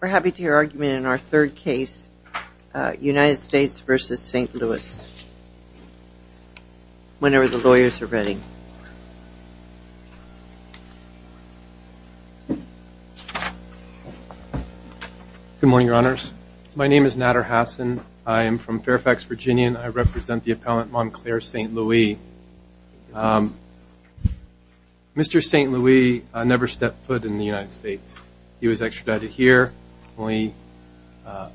We're happy to hear your argument in our third case, United States v. St. Louis, whenever the lawyers are ready. Good morning, Your Honors. My name is Nader Hassan. I am from Fairfax, Virginia, and I represent the appellant Monclaire Saint Louis. Mr. St. Louis never stepped foot in the United States. He was extradited here. The only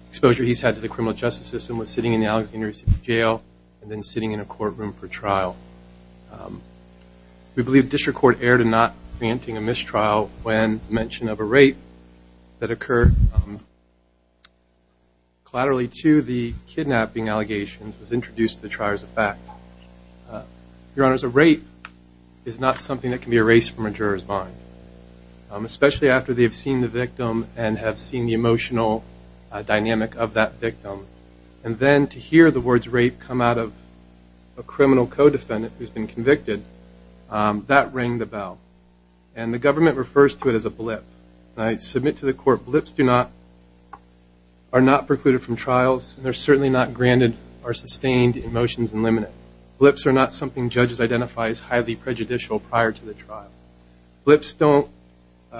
exposure he's had to the criminal justice system was sitting in the Alexandria City Jail and then sitting in a courtroom for trial. We believe the district court erred in not granting a mistrial when mention of a rape that occurred collaterally to the kidnapping allegations was introduced to the trier as a fact. Your Honors, a rape is not something that can be erased from a juror's mind, especially after they have seen the victim and have seen the emotional dynamic of that victim. And then to hear the words rape come out of a criminal co-defendant who's been convicted, that rang the bell. And the government refers to it as a blip. And I submit to the court blips are not precluded from trials, and they're sustained in motions and limited. Blips are not something judges identify as highly prejudicial prior to the trial. Blips don't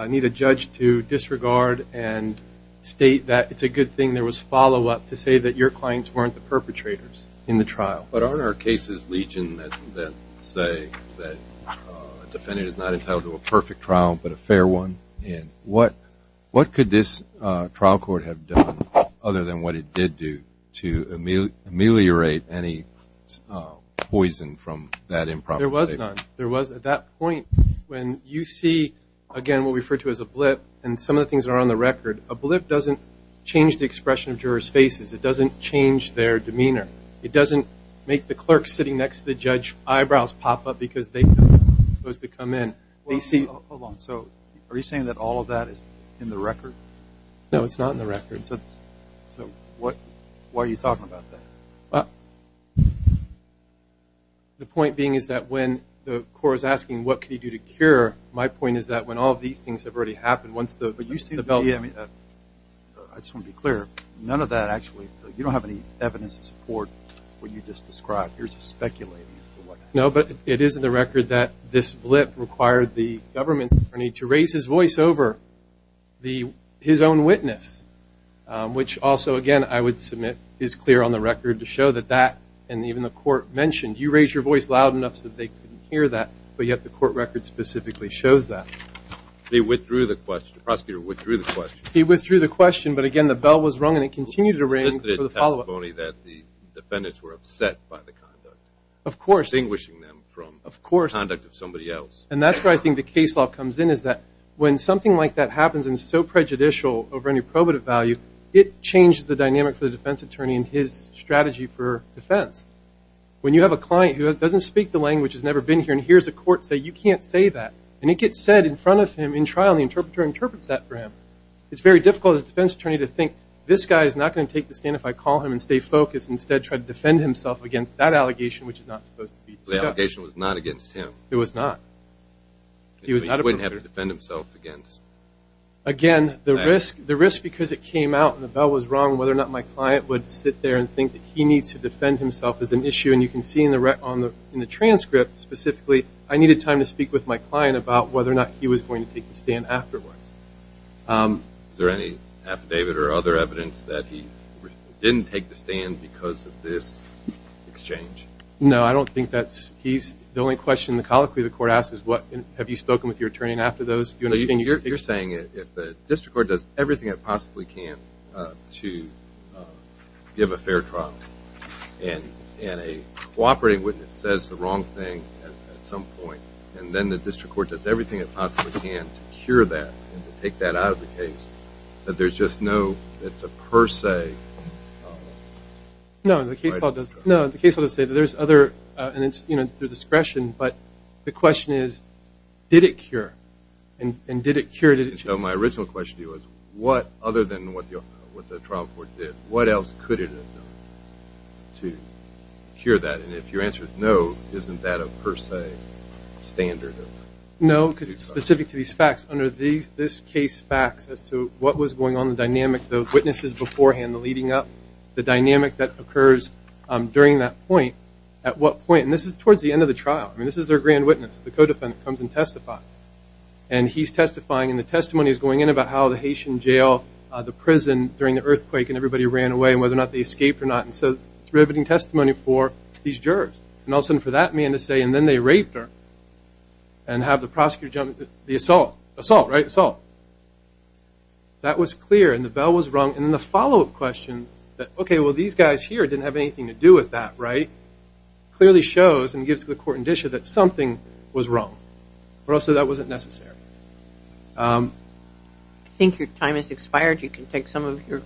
need a judge to disregard and state that it's a good thing there was follow-up to say that your clients weren't the perpetrators in the trial. But aren't our cases, Legion, that say that a defendant is not entitled to a perfect trial but a fair one? And what could this trial court have done other than what it did do to ameliorate any poison from that improper behavior? There was none. There was at that point when you see, again, what we refer to as a blip, and some of the things that are on the record, a blip doesn't change the expression of jurors' faces. It doesn't change their demeanor. It doesn't make the clerk sitting next to the So are you saying that all of that is in the record? No, it's not in the record. So why are you talking about that? The point being is that when the court is asking, what can you do to cure, my point is that when all of these things have already happened, once the development But you seem to be, I just want to be clear, none of that actually, you don't have any evidence to support what you just described. You're just speculating as to what No, but it is in the record that this blip required the government's attorney to raise his voice over his own witness, which also, again, I would submit is clear on the record to show that that, and even the court mentioned, you raised your voice loud enough so that they couldn't hear that, but yet the court record specifically shows that. He withdrew the question. The prosecutor withdrew the question. He withdrew the question, but again, the bell was rung and it continued to ring for the follow-up. And that's where I think the case law comes in is that when something like that happens and is so prejudicial over any probative value, it changes the dynamic for the defense attorney and his strategy for defense. When you have a client who doesn't speak the language, has never been here, and hears a court say, you can't say that, and it gets said in front of him in trial, and the interpreter interprets that for him, it's very difficult as a defense attorney to think, this guy is not going to take the stand if I call him and stay focused and instead try to defend himself against that allegation, which is not supposed to be discussed. The allegation was not against him. It was not. He wouldn't have to defend himself against that. Again, the risk, because it came out and the bell was rung, whether or not my client would sit there and think that he needs to defend himself is an issue, and you can see in the transcript specifically, I needed time to speak with my client about whether or not he was going to take the stand afterwards. Is there any affidavit or other evidence that he didn't take the stand because of this exchange? No, I don't think that's... The only question the colloquy of the court asks is, have you spoken with your attorney after those? You're saying that if the district court does everything it possibly can to give a fair trial, and a cooperating witness says the wrong thing at some point, and then the district court does everything it possibly can to cure that and to take that out of the case, that there's just no, it's a per se... No, the case law does say that there's other, and it's through discretion, but the question is, did it cure? And did it cure... So my original question to you is, what, other than what the trial court did, what else could it have done to cure that? And if your answer is no, isn't that a per se standard? No, because it's specific to these facts. Under this case facts as to what was going on, the dynamic, the witnesses beforehand, the leading up, the dynamic that occurs during that point, at what point, and this is towards the end of the trial. I mean, this is their grand witness, the co-defendant comes and testifies. And he's testifying, and the testimony is going in about how the Haitian jail, the prison during the earthquake, and everybody ran away, and whether or not they escaped or not. And so it's riveting testimony for these jurors. And all of a sudden for that man to say, and then they raped her, and have the prosecutor jump... The assault. Assault, right? Assault. That was clear, and the bell was rung. And then the follow-up questions that, okay, well, these guys here didn't have anything to do with that, right? Clearly shows and gives the court an indicia that something was wrong. Or else that wasn't necessary. I think your time has expired. You can take some of your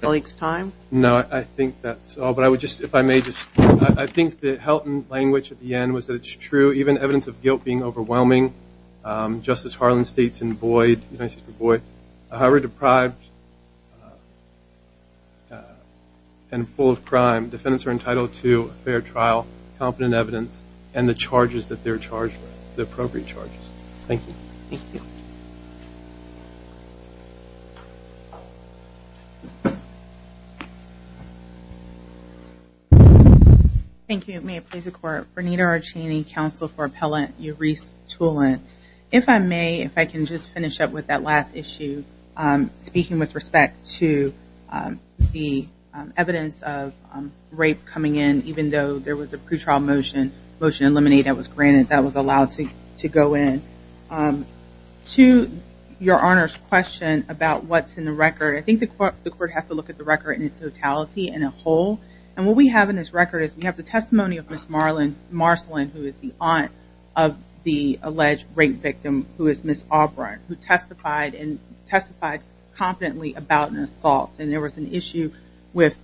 colleagues' time. No, I think that's all. But I would just, if I may just... I think the Helton language at the end was that it's true, even evidence of guilt being overwhelming, just as Harlan states in Boyd, United States v. Boyd, however deprived and full of crime, defendants are entitled to a fair trial, competent evidence, and the charges that they're charged with, the appropriate charges. Thank you. Thank you. Thank you. May it please the court. Vernita Archeney, counsel for Appellant Uris Tulin. If I may, if I can just finish up with that last issue, speaking with respect to the evidence of rape coming in, even though there was a pretrial motion, motion eliminated, that was granted, that was allowed to go in. To your Honor's question about what's in the record, I think the court has to look at the totality and a whole. And what we have in this record is we have the testimony of Ms. Marcellin, who is the aunt of the alleged rape victim, who is Ms. Auburn, who testified competently about an assault. And there was an issue with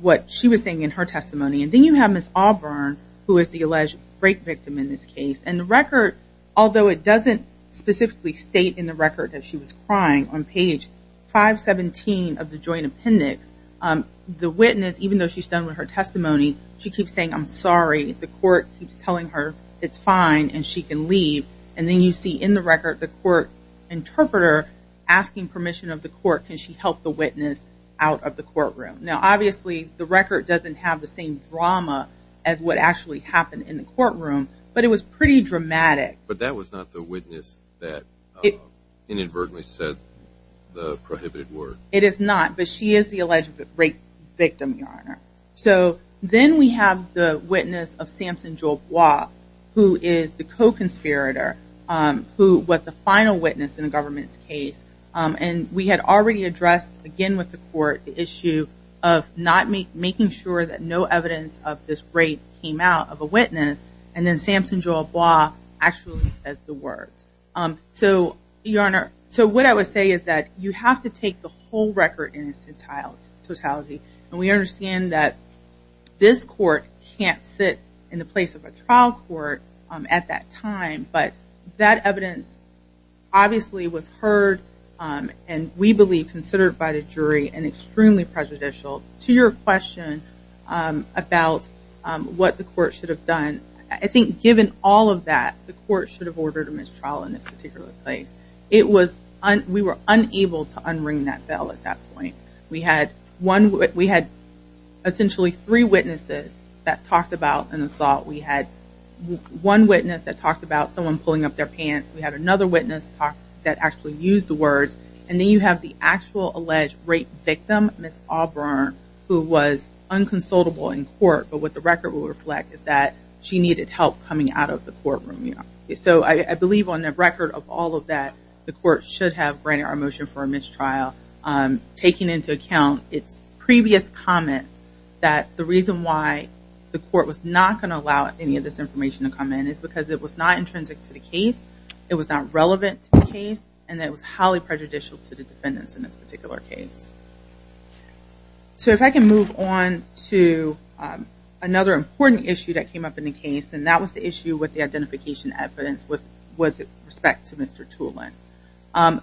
what she was saying in her testimony. And then you have Ms. Auburn, who is the alleged rape victim in this case. And the record, although it doesn't specifically state in the record that she was crying, on the witness, even though she's done with her testimony, she keeps saying, I'm sorry. The court keeps telling her it's fine and she can leave. And then you see in the record the court interpreter asking permission of the court, can she help the witness out of the courtroom. Now, obviously, the record doesn't have the same drama as what actually happened in the courtroom, but it was pretty dramatic. But that was not the witness that inadvertently said the prohibited word. It is not, but she is the alleged rape victim, Your Honor. So then we have the witness of Sampson-Jobois, who is the co-conspirator, who was the final witness in the government's case. And we had already addressed, again with the court, the issue of not making sure that no evidence of this rape came out of a witness. And then Sampson-Jobois actually said the words. So, Your Honor, so what I would say is that you have to take the whole record in its totality. And we understand that this court can't sit in the place of a trial court at that time, but that evidence obviously was heard and we believe considered by the jury and extremely prejudicial to your question about what the court should have done. And I think given all of that, the court should have ordered a mistrial in this particular place. It was, we were unable to unring that bell at that point. We had one, we had essentially three witnesses that talked about an assault. We had one witness that talked about someone pulling up their pants. We had another witness that actually used the words. And then you have the actual alleged rape victim, Ms. Auburn, who was unconsolable in court. But what the record will reflect is that she needed help coming out of the courtroom. So I believe on the record of all of that, the court should have granted our motion for a mistrial, taking into account its previous comments that the reason why the court was not going to allow any of this information to come in is because it was not intrinsic to the case. It was not relevant to the case. And it was highly prejudicial to the defendants in this particular case. So if I can move on to another important issue that came up in the case, and that was the issue with the identification evidence with respect to Mr. Tulin.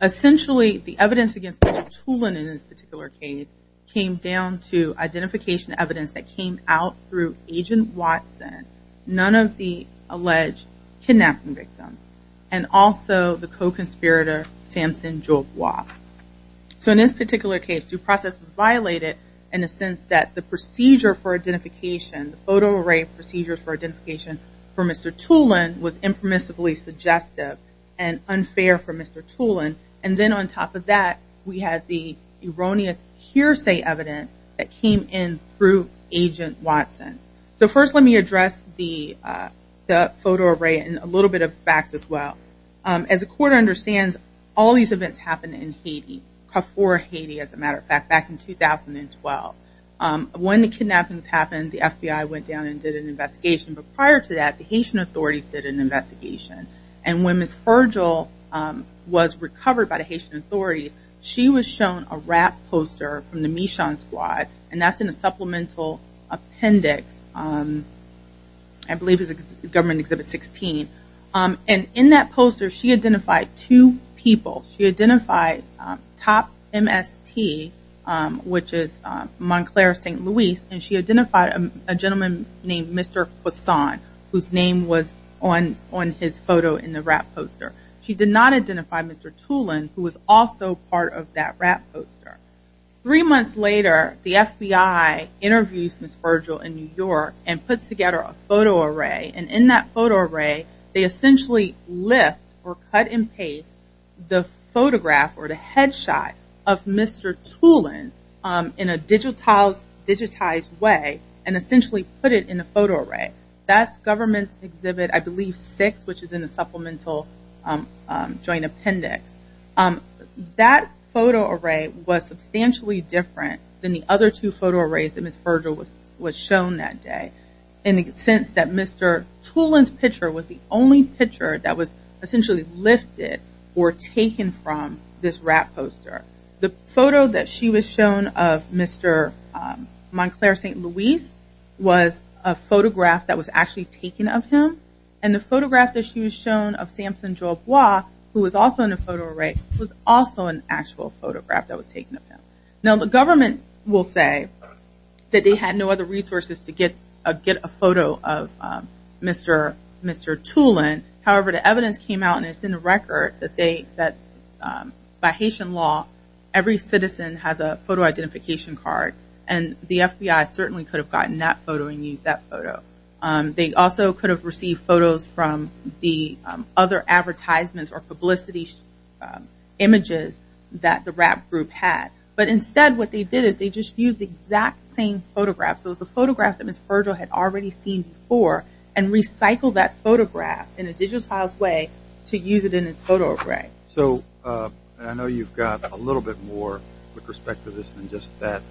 Essentially, the evidence against Mr. Tulin in this particular case came down to identification evidence that came out through Agent Watson, none of the alleged kidnapping victims, and also the co-conspirator, Samson Jogwa. So in this particular case, due process was violated in the sense that the procedure for identification, the photo array procedure for identification for Mr. Tulin was impermissibly suggestive and unfair for Mr. Tulin. And then on top of that, we had the erroneous hearsay evidence that came in through Agent Watson. So first let me address the photo array and a little bit of facts as well. As the court understands, all these events happened in Haiti, before Haiti, as a matter of fact, back in 2012. When the kidnappings happened, the FBI went down and did an investigation. But prior to that, the Haitian authorities did an investigation. And when Ms. Fergile was recovered by the Haitian authorities, she was shown a rap poster from the Michon Squad, and that's in a supplemental appendix. I believe it's Government Exhibit 16. And in that poster, she identified two people. She identified Top MST, which is Montclair, St. Louis, and she identified a gentleman named Mr. Poisson, whose name was on his photo in the rap poster. She did not identify Mr. Tulin, who was also part of that rap poster. Three months later, the FBI interviews Ms. Fergile in New York and puts together a photo array. And in that photo array, they essentially lift or cut and paste the photograph or the headshot of Mr. Tulin in a digitized way and essentially put it in a photo array. That's Government Exhibit, I believe, 6, which is in the supplemental joint appendix. That photo array was substantially different than the other two photo arrays that Ms. Fergile was shown that day, in the sense that Mr. Tulin's picture was the only picture that was essentially lifted or taken from this rap poster. The photo that she was shown of Mr. Montclair, St. Louis, was a photograph that was actually taken of him. And the photograph that she was shown of Samson Jolbois, who was also in the photo array, was also an actual photograph that was taken of him. Now, the government will say that they had no other resources to get a photo of Mr. Tulin. However, the evidence came out and it's in the record that by Haitian law, every citizen has a photo identification card. And the FBI certainly could have gotten that photo and used that photo. They also could have received photos from the other advertisements or publicity images that the rap group had. But instead, what they did is they just used the exact same photograph, so it was a photograph that Ms. Fergile had already seen before, and recycled that photograph in a digitized way to use it in its photo array. So, I know you've got a little bit more with respect to this than just that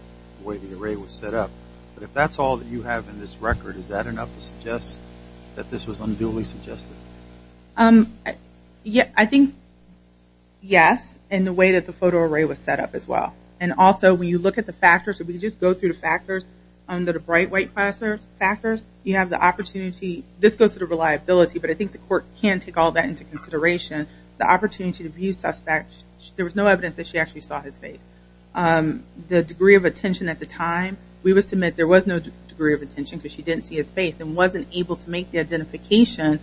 way the array was set up. But if that's all that you have in this record, is that enough to suggest that this was unduly suggested? I think yes, in the way that the photo array was set up as well. And also, when you look at the factors, if we just go through the factors, under the bright white factors, you have the opportunity, this goes to the reliability, but I think the court can take all that into consideration. The opportunity to view suspects, there was no evidence that she actually saw his face. The degree of attention at the time, we would submit there was no degree of attention because she didn't see his face and wasn't able to make the identification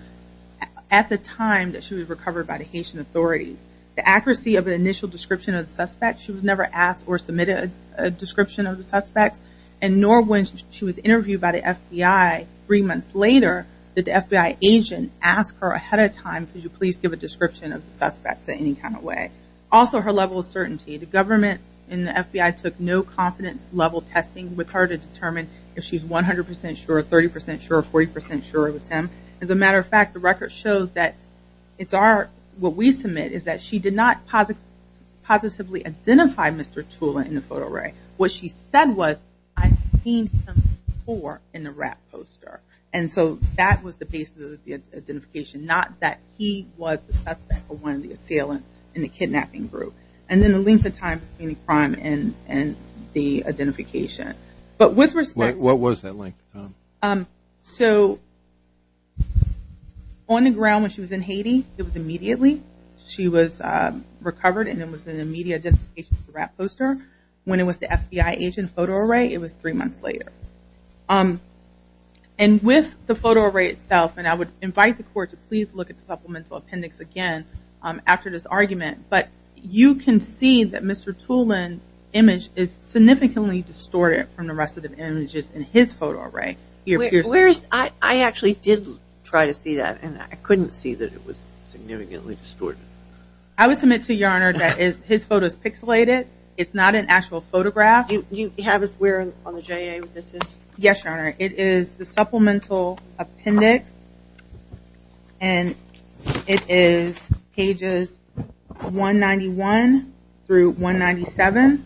at the time that she was recovered by the Haitian authorities. The accuracy of the initial description of the suspect, she was never asked or submitted a description of the suspects, and nor when she was interviewed by the FBI three months later, did the FBI agent ask her ahead of time, could you please give a description of the suspects in any kind of way? Also, her level of certainty. The government and the FBI took no confidence level testing with her to determine if she's 100% sure, 30% sure, 40% sure it was him. As a matter of fact, the record shows that it's our, what we submit is that she did not positively identify Mr. Tula in the photo array. What she said was, I've seen him before in the rap poster. And so that was the basis of the identification, not that he was the suspect for one of the assailants in the kidnapping group. And then the length of time between the crime and the identification. What was that length of time? So on the ground when she was in Haiti, it was immediately. She was recovered, and it was an immediate identification for the rap poster. When it was the FBI agent photo array, it was three months later. And with the photo array itself, and I would invite the court to please look at the supplemental appendix again after this argument. But you can see that Mr. Tula's image is significantly distorted from the rest of the images in his photo array. I actually did try to see that, and I couldn't see that it was significantly distorted. I would submit to Your Honor that his photo is pixelated. It's not an actual photograph. You have us where on the JA this is? Yes, Your Honor. It is the supplemental appendix. And it is pages 191 through 197.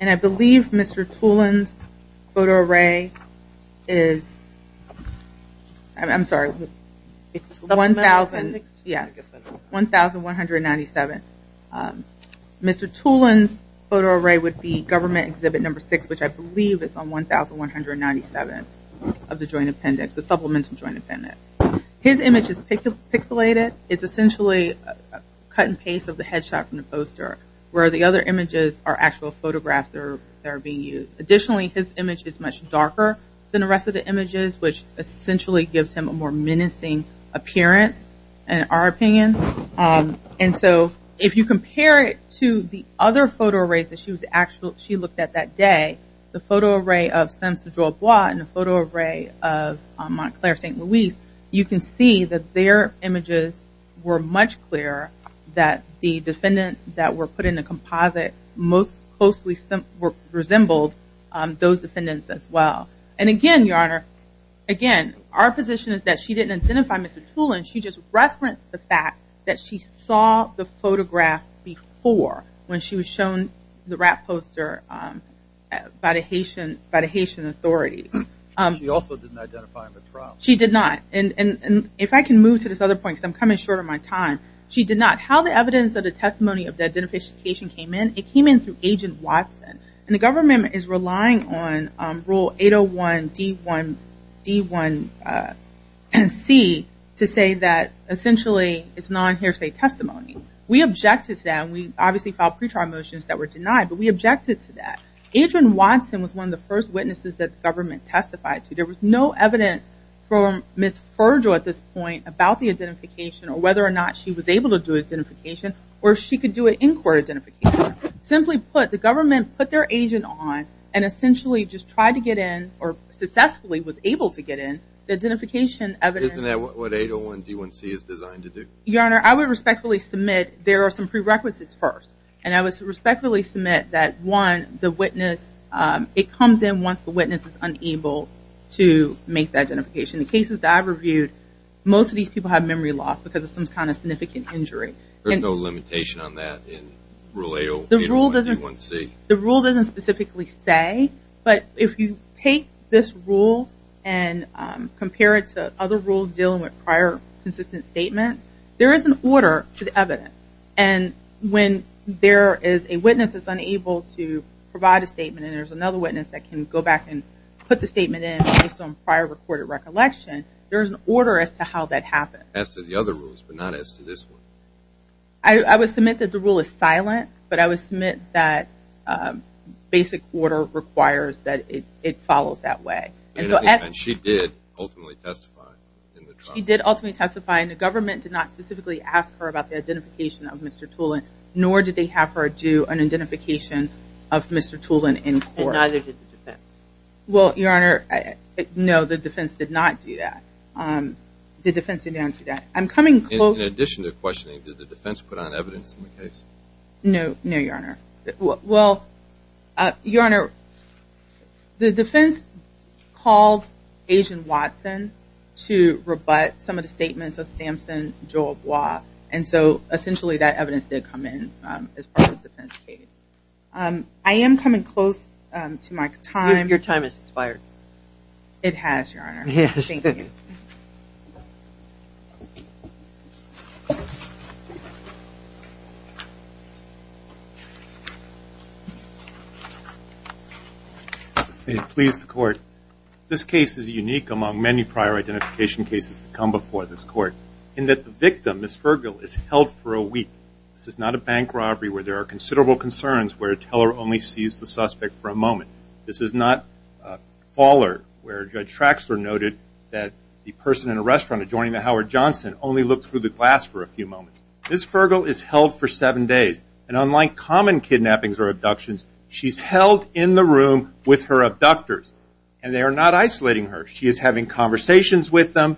And I believe Mr. Tula's photo array is 1,197. Mr. Tula's photo array would be government exhibit number 6, which I believe is on 1,197 of the joint appendix, the supplemental joint appendix. His image is pixelated. It's essentially a cut and paste of the headshot from the poster, where the other images are actual photographs that are being used. Additionally, his image is much darker than the rest of the images, which essentially gives him a more menacing appearance in our opinion. And so if you compare it to the other photo arrays that she looked at that day, the photo array of Sainte-Georgette Bois and the photo array of Montclair St. Louis, you can see that their images were much clearer, that the defendants that were put in the composite most closely resembled those defendants as well. And again, Your Honor, again, our position is that she didn't identify Mr. Tula, and she just referenced the fact that she saw the photograph before, when she was shown the rap poster by the Haitian authorities. She also didn't identify him at trial. She did not. And if I can move to this other point, because I'm coming short of my time, she did not. How the evidence of the testimony of the identification came in, it came in through Agent Watson. And the government is relying on Rule 801D1C to say that, essentially, it's non-hearsay testimony. We objected to that, and we obviously filed pre-trial motions that were denied, but we objected to that. Agent Watson was one of the first witnesses that the government testified to. There was no evidence from Ms. Ferger at this point about the identification, or whether or not she was able to do identification, or if she could do an in-court identification. Simply put, the government put their agent on, and essentially just tried to get in, or successfully was able to get in, the identification evidence. Isn't that what 801D1C is designed to do? Your Honor, I would respectfully submit there are some prerequisites first. And I would respectfully submit that, one, the witness, it comes in once the witness is unable to make the identification. In cases that I've reviewed, most of these people have memory loss, because of some kind of significant injury. There's no limitation on that in Rule 801D1C? The rule doesn't specifically say, but if you take this rule and compare it with the other rules dealing with prior consistent statements, there is an order to the evidence. And when there is a witness that's unable to provide a statement, and there's another witness that can go back and put the statement in based on prior recorded recollection, there's an order as to how that happens. As to the other rules, but not as to this one? I would submit that the rule is silent, but I would submit that basic order requires that it follows that way. And she did ultimately testify in the trial? She did ultimately testify, and the government did not specifically ask her about the identification of Mr. Tulin, nor did they have her do an identification of Mr. Tulin in court. And neither did the defense? Well, Your Honor, no, the defense did not do that. The defense did not do that. In addition to questioning, did the defense put on evidence in the case? No, Your Honor. Well, Your Honor, the defense called Agent Watson to rebut some of the statements of Sampson, Joe, and so essentially that evidence did come in as part of the defense case. I am coming close to my time. It has, Your Honor. Yes. May it please the Court, this case is unique among many prior identification cases that come before this Court in that the victim, Ms. Fergill, is held for a week. This is not a bank robbery where there are considerable concerns where a teller only sees the suspect for a moment. This is not a faller where Judge Traxler noted that the person in a restaurant adjoining the Howard Johnson only looked through the glass for a few moments. Ms. Fergill is held for seven days. And unlike common kidnappings or abductions, she's held in the room with her abductors. And they are not isolating her. She is having conversations with them,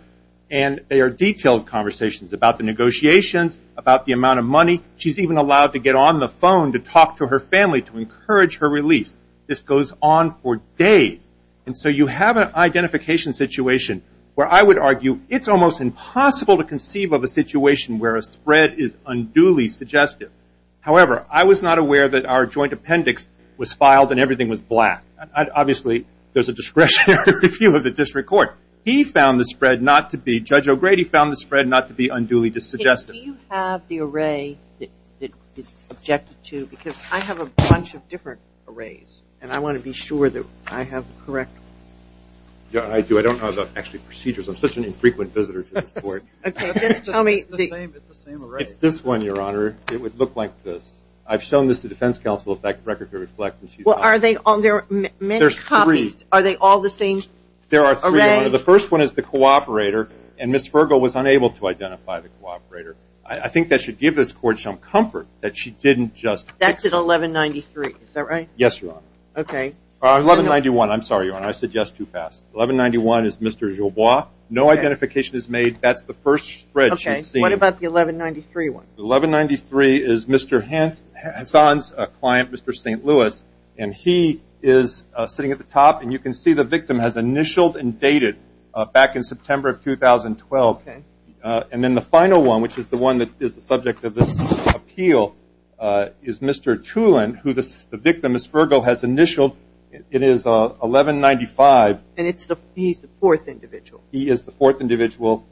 and they are detailed conversations about the negotiations, about the amount of money. She's even allowed to get on the phone to talk to her family to encourage her release. This goes on for days. And so you have an identification situation where I would argue it's almost impossible to conceive of a situation where a spread is unduly suggestive. However, I was not aware that our joint appendix was filed and everything was black. Obviously, there's a discretionary review of the district court. He found the spread not to be, Judge O'Grady, found the spread not to be unduly suggestive. Do you have the array that it's subjected to? Because I have a bunch of different arrays, and I want to be sure that I have the correct one. Yeah, I do. I don't know the actual procedures. I'm such an infrequent visitor to this court. Okay. Just tell me. It's the same array. It's this one, Your Honor. It would look like this. I've shown this to defense counsel if that record could reflect. Well, are there many copies? There's three. Are they all the same array? There are three, Your Honor. The first one is the cooperator, and Ms. Fergill was unable to identify the cooperator. I think that should give this court some comfort that she didn't just fix it. That's at 1193. Is that right? Yes, Your Honor. 1191. I'm sorry, Your Honor. I said yes too fast. 1191 is Mr. Jobois. No identification is made. That's the first spread she's seen. Okay. What about the 1193 one? The 1193 is Mr. Hassan's client, Mr. St. Louis, and he is sitting at the top, and you can see the victim has initialed and dated back in September of 2012. Okay. And then the final one, which is the one that is the subject of this appeal, is Mr. Tulin, who the victim, Ms. Fergill, has initialed. It is 1195. And he's the fourth individual. He is the fourth individual.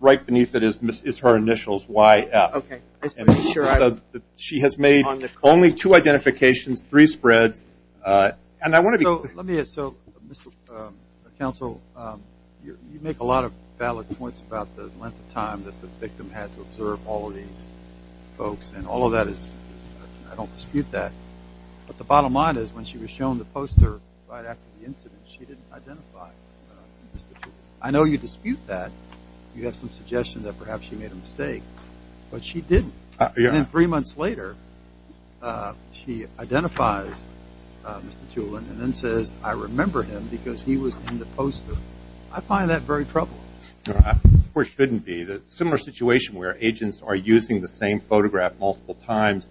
Right beneath it is her initials, YF. Okay. She has made only two identifications, three spreads. And I want to be clear. Let me ask. So, Mr. Counsel, you make a lot of valid points about the length of time that the victim had to observe all of these folks, and all of that is, I don't dispute that. But the bottom line is when she was shown the poster right after the incident, she didn't identify Mr. Tulin. I know you dispute that. You have some suggestion that perhaps she made a mistake, but she didn't. And then three months later, she identifies Mr. Tulin and then says, I remember him because he was in the poster. I find that very troubling. Of course, it shouldn't be. It's a similar situation where agents are using the same photograph multiple times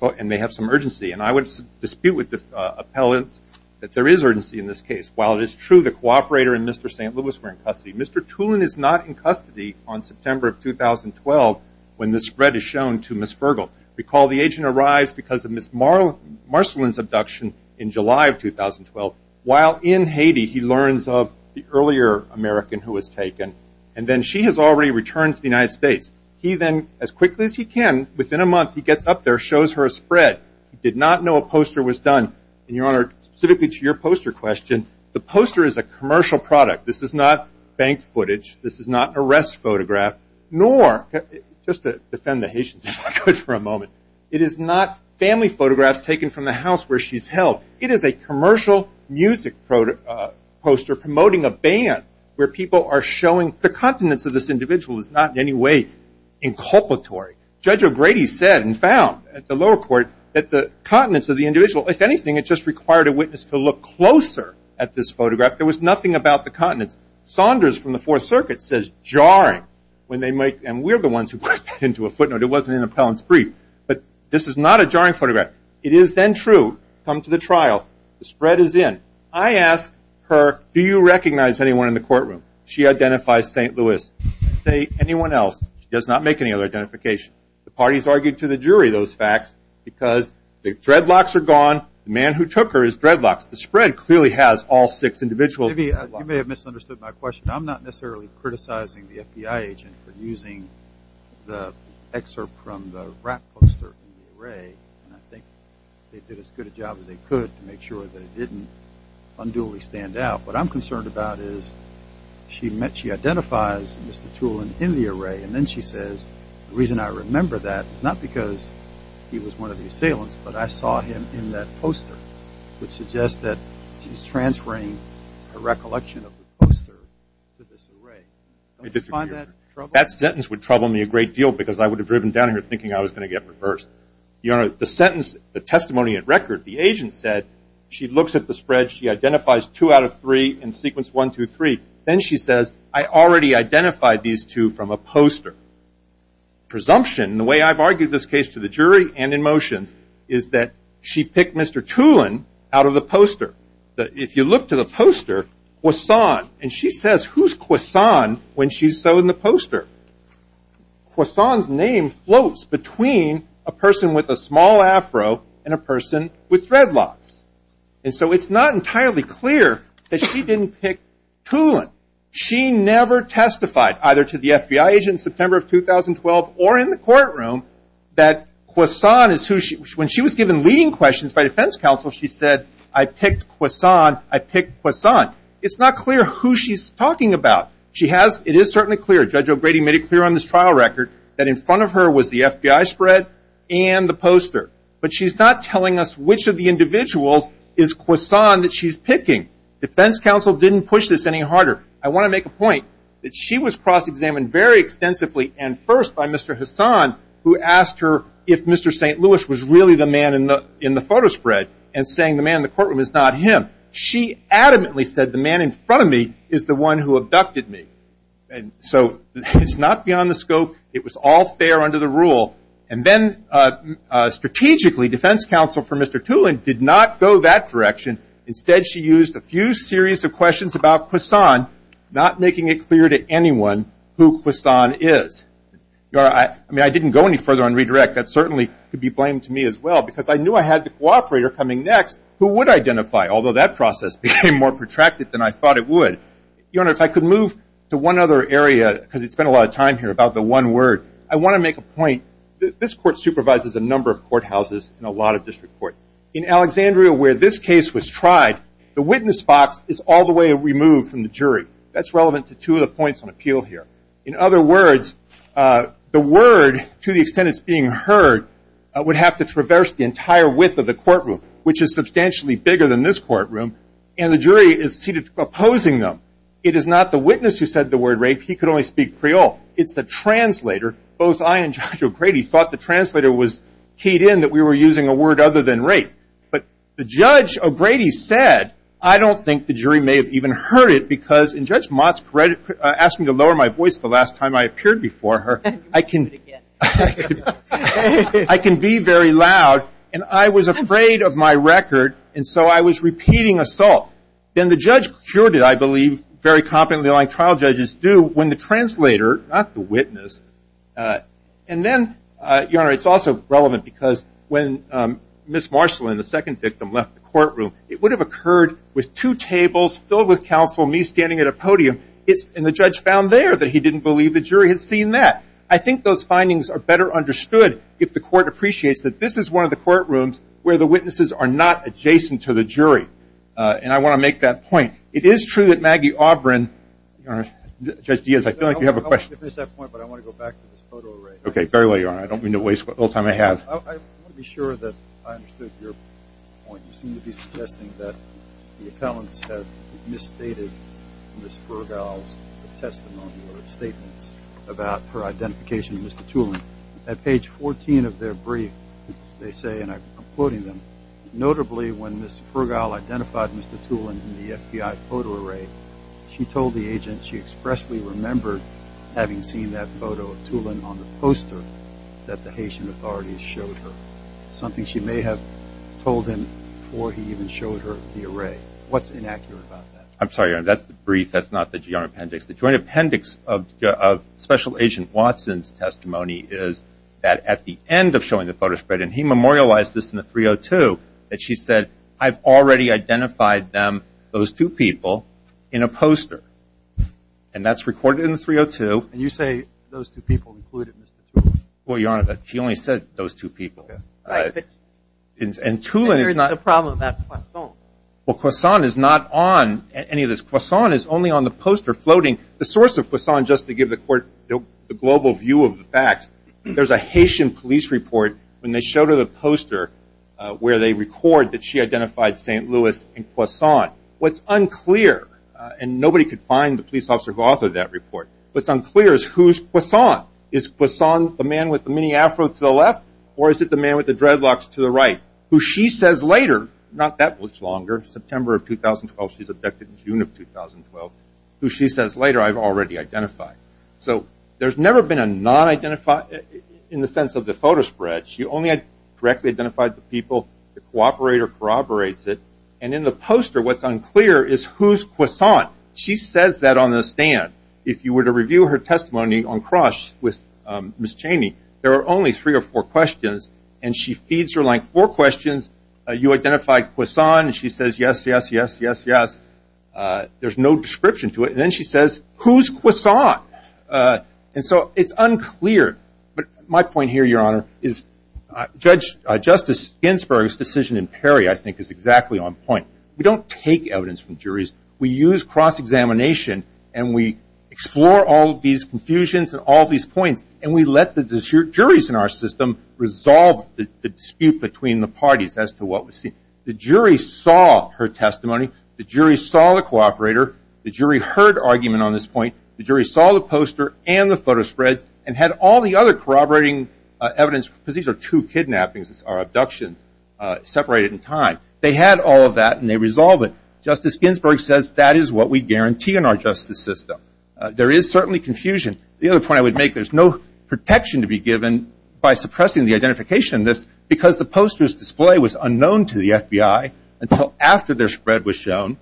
and they have some urgency. And I would dispute with the appellant that there is urgency in this case. While it is true the cooperator and Mr. St. Louis were in custody, Mr. Tulin is not in custody on September of 2012 when the spread is shown to Ms. Fergal. Recall the agent arrives because of Ms. Marcelin's abduction in July of 2012. While in Haiti, he learns of the earlier American who was taken, and then she has already returned to the United States. He then, as quickly as he can, within a month, he gets up there, shows her a spread. He did not know a poster was done. And, Your Honor, specifically to your poster question, the poster is a commercial product. This is not bank footage. This is not an arrest photograph. Nor, just to defend the Haitians if I could for a moment, it is not family photographs taken from the house where she's held. It is a commercial music poster promoting a band where people are showing. The continence of this individual is not in any way inculpatory. Judge O'Grady said and found at the lower court that the continence of the individual, if anything, it just required a witness to look closer at this photograph. There was nothing about the continence. Saunders from the Fourth Circuit says jarring when they make, and we're the ones who put that into a footnote. It wasn't an appellant's brief. But this is not a jarring photograph. It is then true, come to the trial, the spread is in. I ask her, do you recognize anyone in the courtroom? She identifies St. Louis. I say, anyone else? She does not make any other identification. The parties argued to the jury those facts because the dreadlocks are gone. The man who took her is dreadlocks. The spread clearly has all six individuals. You may have misunderstood my question. I'm not necessarily criticizing the FBI agent for using the excerpt from the rap poster in the array. I think they did as good a job as they could to make sure that it didn't unduly stand out. What I'm concerned about is she identifies Mr. Tulin in the array, and then she says the reason I remember that is not because he was one of the assailants, but I saw him in that poster, which suggests that she's transferring a recollection of the poster to this array. Don't you find that troubling? That sentence would trouble me a great deal because I would have driven down here thinking I was going to get reversed. Your Honor, the sentence, the testimony at record, the agent said she looks at the spread. She identifies two out of three in sequence one, two, three. Then she says, I already identified these two from a poster. Presumption, the way I've argued this case to the jury and in motions, is that she picked Mr. Tulin out of the poster. If you look to the poster, Kwasan, and she says, who's Kwasan when she's so in the poster? Kwasan's name floats between a person with a small afro and a person with dreadlocks. And so it's not entirely clear that she didn't pick Tulin. She never testified either to the FBI agent in September of 2012 or in the courtroom that Kwasan is who she, when she was given leading questions by defense counsel, she said, I picked Kwasan. I picked Kwasan. It's not clear who she's talking about. She has, it is certainly clear, Judge O'Grady made it clear on this trial record, that in front of her was the FBI spread and the poster. But she's not telling us which of the individuals is Kwasan that she's picking. Defense counsel didn't push this any harder. I want to make a point that she was cross-examined very extensively and first by Mr. Kwasan, who asked her if Mr. St. Louis was really the man in the photo spread and saying the man in the courtroom is not him. She adamantly said, the man in front of me is the one who abducted me. And so it's not beyond the scope. It was all fair under the rule. And then strategically, defense counsel for Mr. Tulin did not go that direction. Instead, she used a few series of questions about Kwasan, not making it clear to anyone who Kwasan is. I mean, I didn't go any further on redirect. That certainly could be blamed to me as well, because I knew I had the cooperator coming next who would identify, although that process became more protracted than I thought it would. Your Honor, if I could move to one other area, because we spent a lot of time here about the one word. I want to make a point. This court supervises a number of courthouses in a lot of district courts. In Alexandria, where this case was tried, the witness box is all the way removed from the jury. That's relevant to two of the points on appeal here. In other words, the word, to the extent it's being heard, would have to traverse the entire width of the courtroom, which is substantially bigger than this courtroom, and the jury is seated opposing them. It is not the witness who said the word rape. He could only speak Creole. It's the translator. Both I and Judge O'Grady thought the translator was keyed in, that we were using a word other than rape. But the Judge O'Grady said, I don't think the jury may have even heard it, because in Judge Mott's credit, asked me to lower my voice the last time I appeared before her. I can be very loud, and I was afraid of my record, and so I was repeating assault. Then the judge cured it, I believe, very competently like trial judges do, when the translator, not the witness. And then, Your Honor, it's also relevant because when Ms. Marcellin, the second victim, left the courtroom, it would have occurred with two tables filled with counsel, me standing at a podium, and the judge found there that he didn't believe the jury had seen that. I think those findings are better understood if the court appreciates that this is one of the courtrooms where the witnesses are not adjacent to the jury. And I want to make that point. It is true that Maggie Aubrin, Your Honor, Judge Diaz, I feel like you have a question. I don't want to miss that point, but I want to go back to this photo array. Okay, very well, Your Honor. I don't mean to waste all the time I have. I want to be sure that I understood your point. You seem to be suggesting that the appellants have misstated Ms. Fergal's testimony or statements about her identification with Mr. Tulin. At page 14 of their brief, they say, and I'm quoting them, notably when Ms. Fergal identified Mr. Tulin in the FBI photo array, she told the agent she expressly remembered having seen that photo of Tulin on the poster that the Haitian authorities showed her, something she may have told him before he even showed her the array. What's inaccurate about that? I'm sorry, Your Honor. That's the brief. That's not the joint appendix. The joint appendix of Special Agent Watson's testimony is that at the end of showing the photo spread, and he memorialized this in the 302, that she said, I've already identified them, those two people, in a poster. And that's recorded in the 302. And you say those two people included Mr. Tulin. Well, Your Honor, she only said those two people. And Tulin is not – And there's a problem with that croissant. Well, croissant is not on any of this. Croissant is only on the poster floating. The source of croissant, just to give the court the global view of the facts, there's a Haitian police report when they showed her the poster where they record that she identified St. Louis and croissant. What's unclear, and nobody could find the police officer who authored that report, what's unclear is who's croissant. Is croissant the man with the mini afro to the left, or is it the man with the dreadlocks to the right, who she says later, not that much longer, September of 2012, she's abducted in June of 2012, who she says later, I've already identified. So there's never been a non-identified in the sense of the photo spread. She only had directly identified the people, the cooperator corroborates it. And in the poster, what's unclear is who's croissant. She says that on the stand. If you were to review her testimony on cross with Ms. Cheney, there are only three or four questions, and she feeds her like four questions. You identified croissant, and she says, yes, yes, yes, yes, yes. There's no description to it. And then she says, who's croissant? And so it's unclear. But my point here, Your Honor, is Justice Ginsburg's decision in Perry I think is exactly on point. We don't take evidence from juries. We use cross-examination, and we explore all these confusions and all these points, and we let the juries in our system resolve the dispute between the parties as to what was seen. The jury saw her testimony. The jury saw the cooperator. The jury heard argument on this point. The jury saw the poster and the photo spreads and had all the other corroborating evidence because these are two kidnappings or abductions separated in time. They had all of that, and they resolved it. Justice Ginsburg says that is what we guarantee in our justice system. There is certainly confusion. The other point I would make, there's no protection to be given by suppressing the identification of this because the poster's display was unknown to the FBI until after their spread was shown,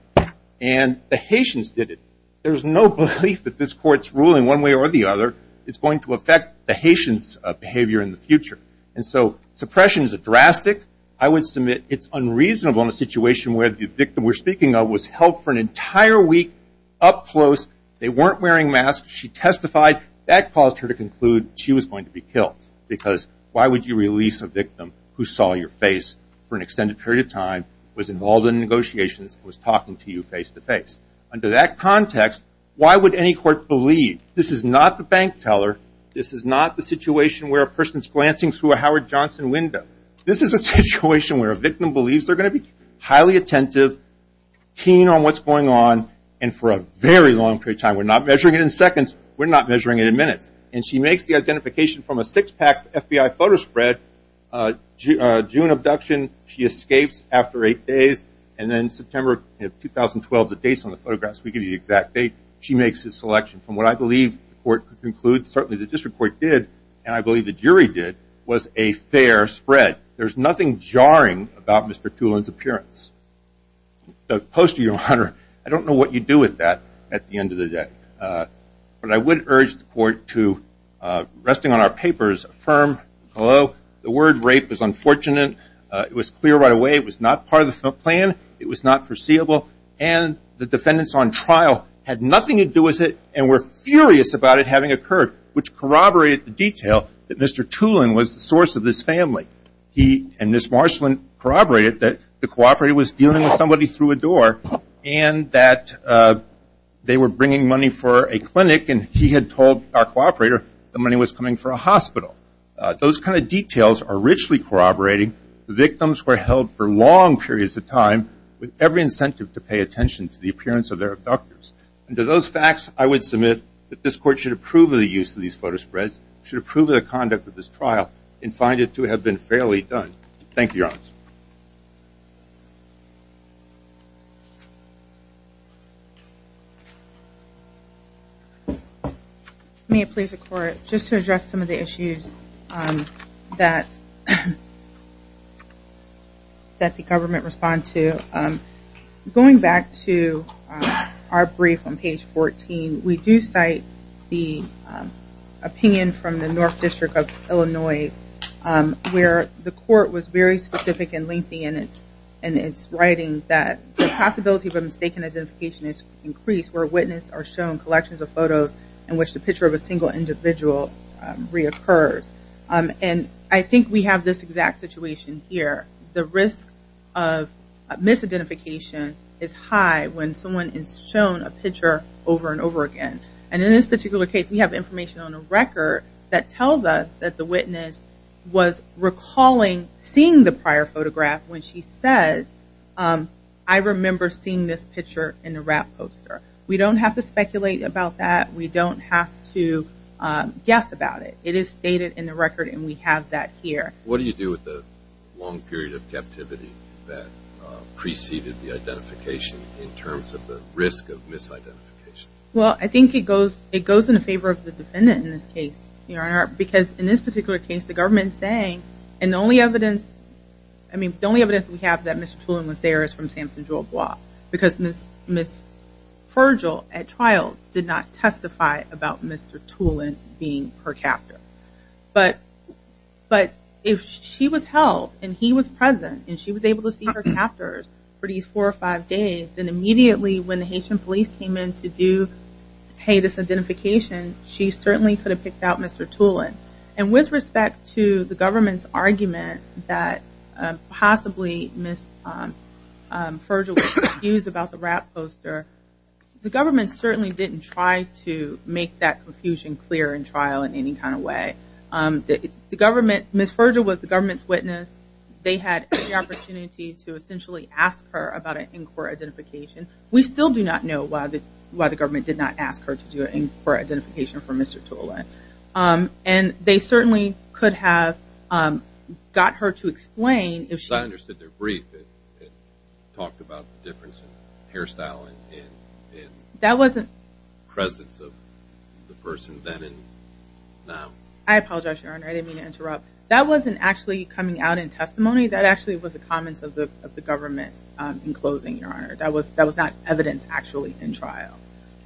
and the Haitians did it. There's no belief that this court's ruling one way or the other is going to affect the Haitians' behavior in the future. And so suppression is drastic. I would submit it's unreasonable in a situation where the victim we're speaking of was held for an entire week up close. They weren't wearing masks. She testified. That caused her to conclude she was going to be killed because why would you release a victim who saw your face for an extended period of time, was involved in negotiations, was talking to you face-to-face? Under that context, why would any court believe? This is not the bank teller. This is not the situation where a person's glancing through a Howard Johnson window. This is a situation where a victim believes they're going to be highly attentive, keen on what's going on, and for a very long period of time. We're not measuring it in seconds. We're not measuring it in minutes. And she makes the identification from a six-pack FBI photo spread, June abduction. She escapes after eight days. And then September of 2012, the dates on the photographs. We give you the exact date. She makes his selection. From what I believe the court concludes, certainly the district court did, and I believe the jury did, was a fair spread. There's nothing jarring about Mr. Tulin's appearance. The poster, Your Honor, I don't know what you do with that at the end of the day. But I would urge the court to, resting on our papers, affirm, hello, the word rape is unfortunate. It was clear right away. It was not part of the plan. It was not foreseeable. And the defendants on trial had nothing to do with it and were furious about it having occurred, which corroborated the detail that Mr. Tulin was the source of this family. He and Ms. Marsland corroborated that the cooperator was dealing with somebody through a door and that they were bringing money for a clinic, and he had told our cooperator the money was coming for a hospital. Those kind of details are richly corroborating. The victims were held for long periods of time with every incentive to pay attention to the appearance of their abductors. And to those facts, I would submit that this court should approve of the use of these photo spreads, should approve of the conduct of this trial, and find it to have been fairly done. Thank you, Your Honor. May it please the court, just to address some of the issues that the government responds to, going back to our brief on page 14, we do cite the opinion from the North District of Illinois where the court was very specific and lengthy in its writing that the possibility of a mistaken identification is increased where witnesses are shown collections of photos in which the picture of a single individual reoccurs. And I think we have this exact situation here. The risk of misidentification is high when someone is shown a picture over and over again. And in this particular case, we have information on a record that tells us that the witness was recalling seeing the prior photograph when she said, I remember seeing this picture in the wrap poster. We don't have to speculate about that. We don't have to guess about it. It is stated in the record, and we have that here. What do you do with the long period of captivity that preceded the identification in terms of the risk of misidentification? Well, I think it goes in favor of the defendant in this case, Your Honor, because in this particular case, the government is saying, and the only evidence, I mean, the only evidence that we have that Mr. Tulin was there is from Samson-Jolbois because Ms. Furgel at trial did not testify about Mr. Tulin being her captor. But if she was held and he was present and she was able to see her captors for these four or five days, then immediately when the Haitian police came in to pay this identification, she certainly could have picked out Mr. Tulin. And with respect to the government's argument that possibly Ms. Furgel was confused about the wrap poster, the government certainly didn't try to make that confusion clear in trial in any kind of way. Because they had the opportunity to essentially ask her about an in-court identification. We still do not know why the government did not ask her to do an in-court identification for Mr. Tulin. And they certainly could have got her to explain. Because I understood their brief that talked about the difference in hairstyle and presence of the person then and now. I apologize, Your Honor. I didn't mean to interrupt. That wasn't actually coming out in testimony. That actually was a comment of the government in closing, Your Honor. That was not evidence actually in trial.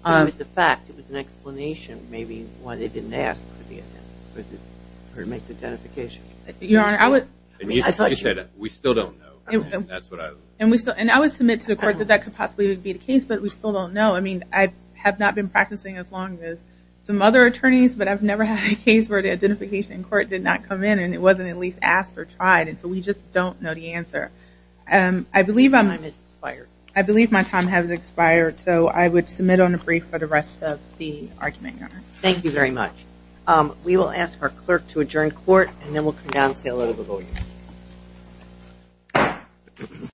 It was the fact. It was an explanation maybe why they didn't ask her to make the identification. Your Honor, I would... We still don't know. That's what I would... And I would submit to the court that that could possibly be the case, but we still don't know. I mean, I have not been practicing as long as some other attorneys, but I've never had a case where the identification in court did not come in and it wasn't at least asked or tried. So we just don't know the answer. I believe my time has expired, so I would submit on a brief for the rest of the argument, Your Honor. Thank you very much. We will ask our clerk to adjourn court, and then we'll come down and say a little bit more.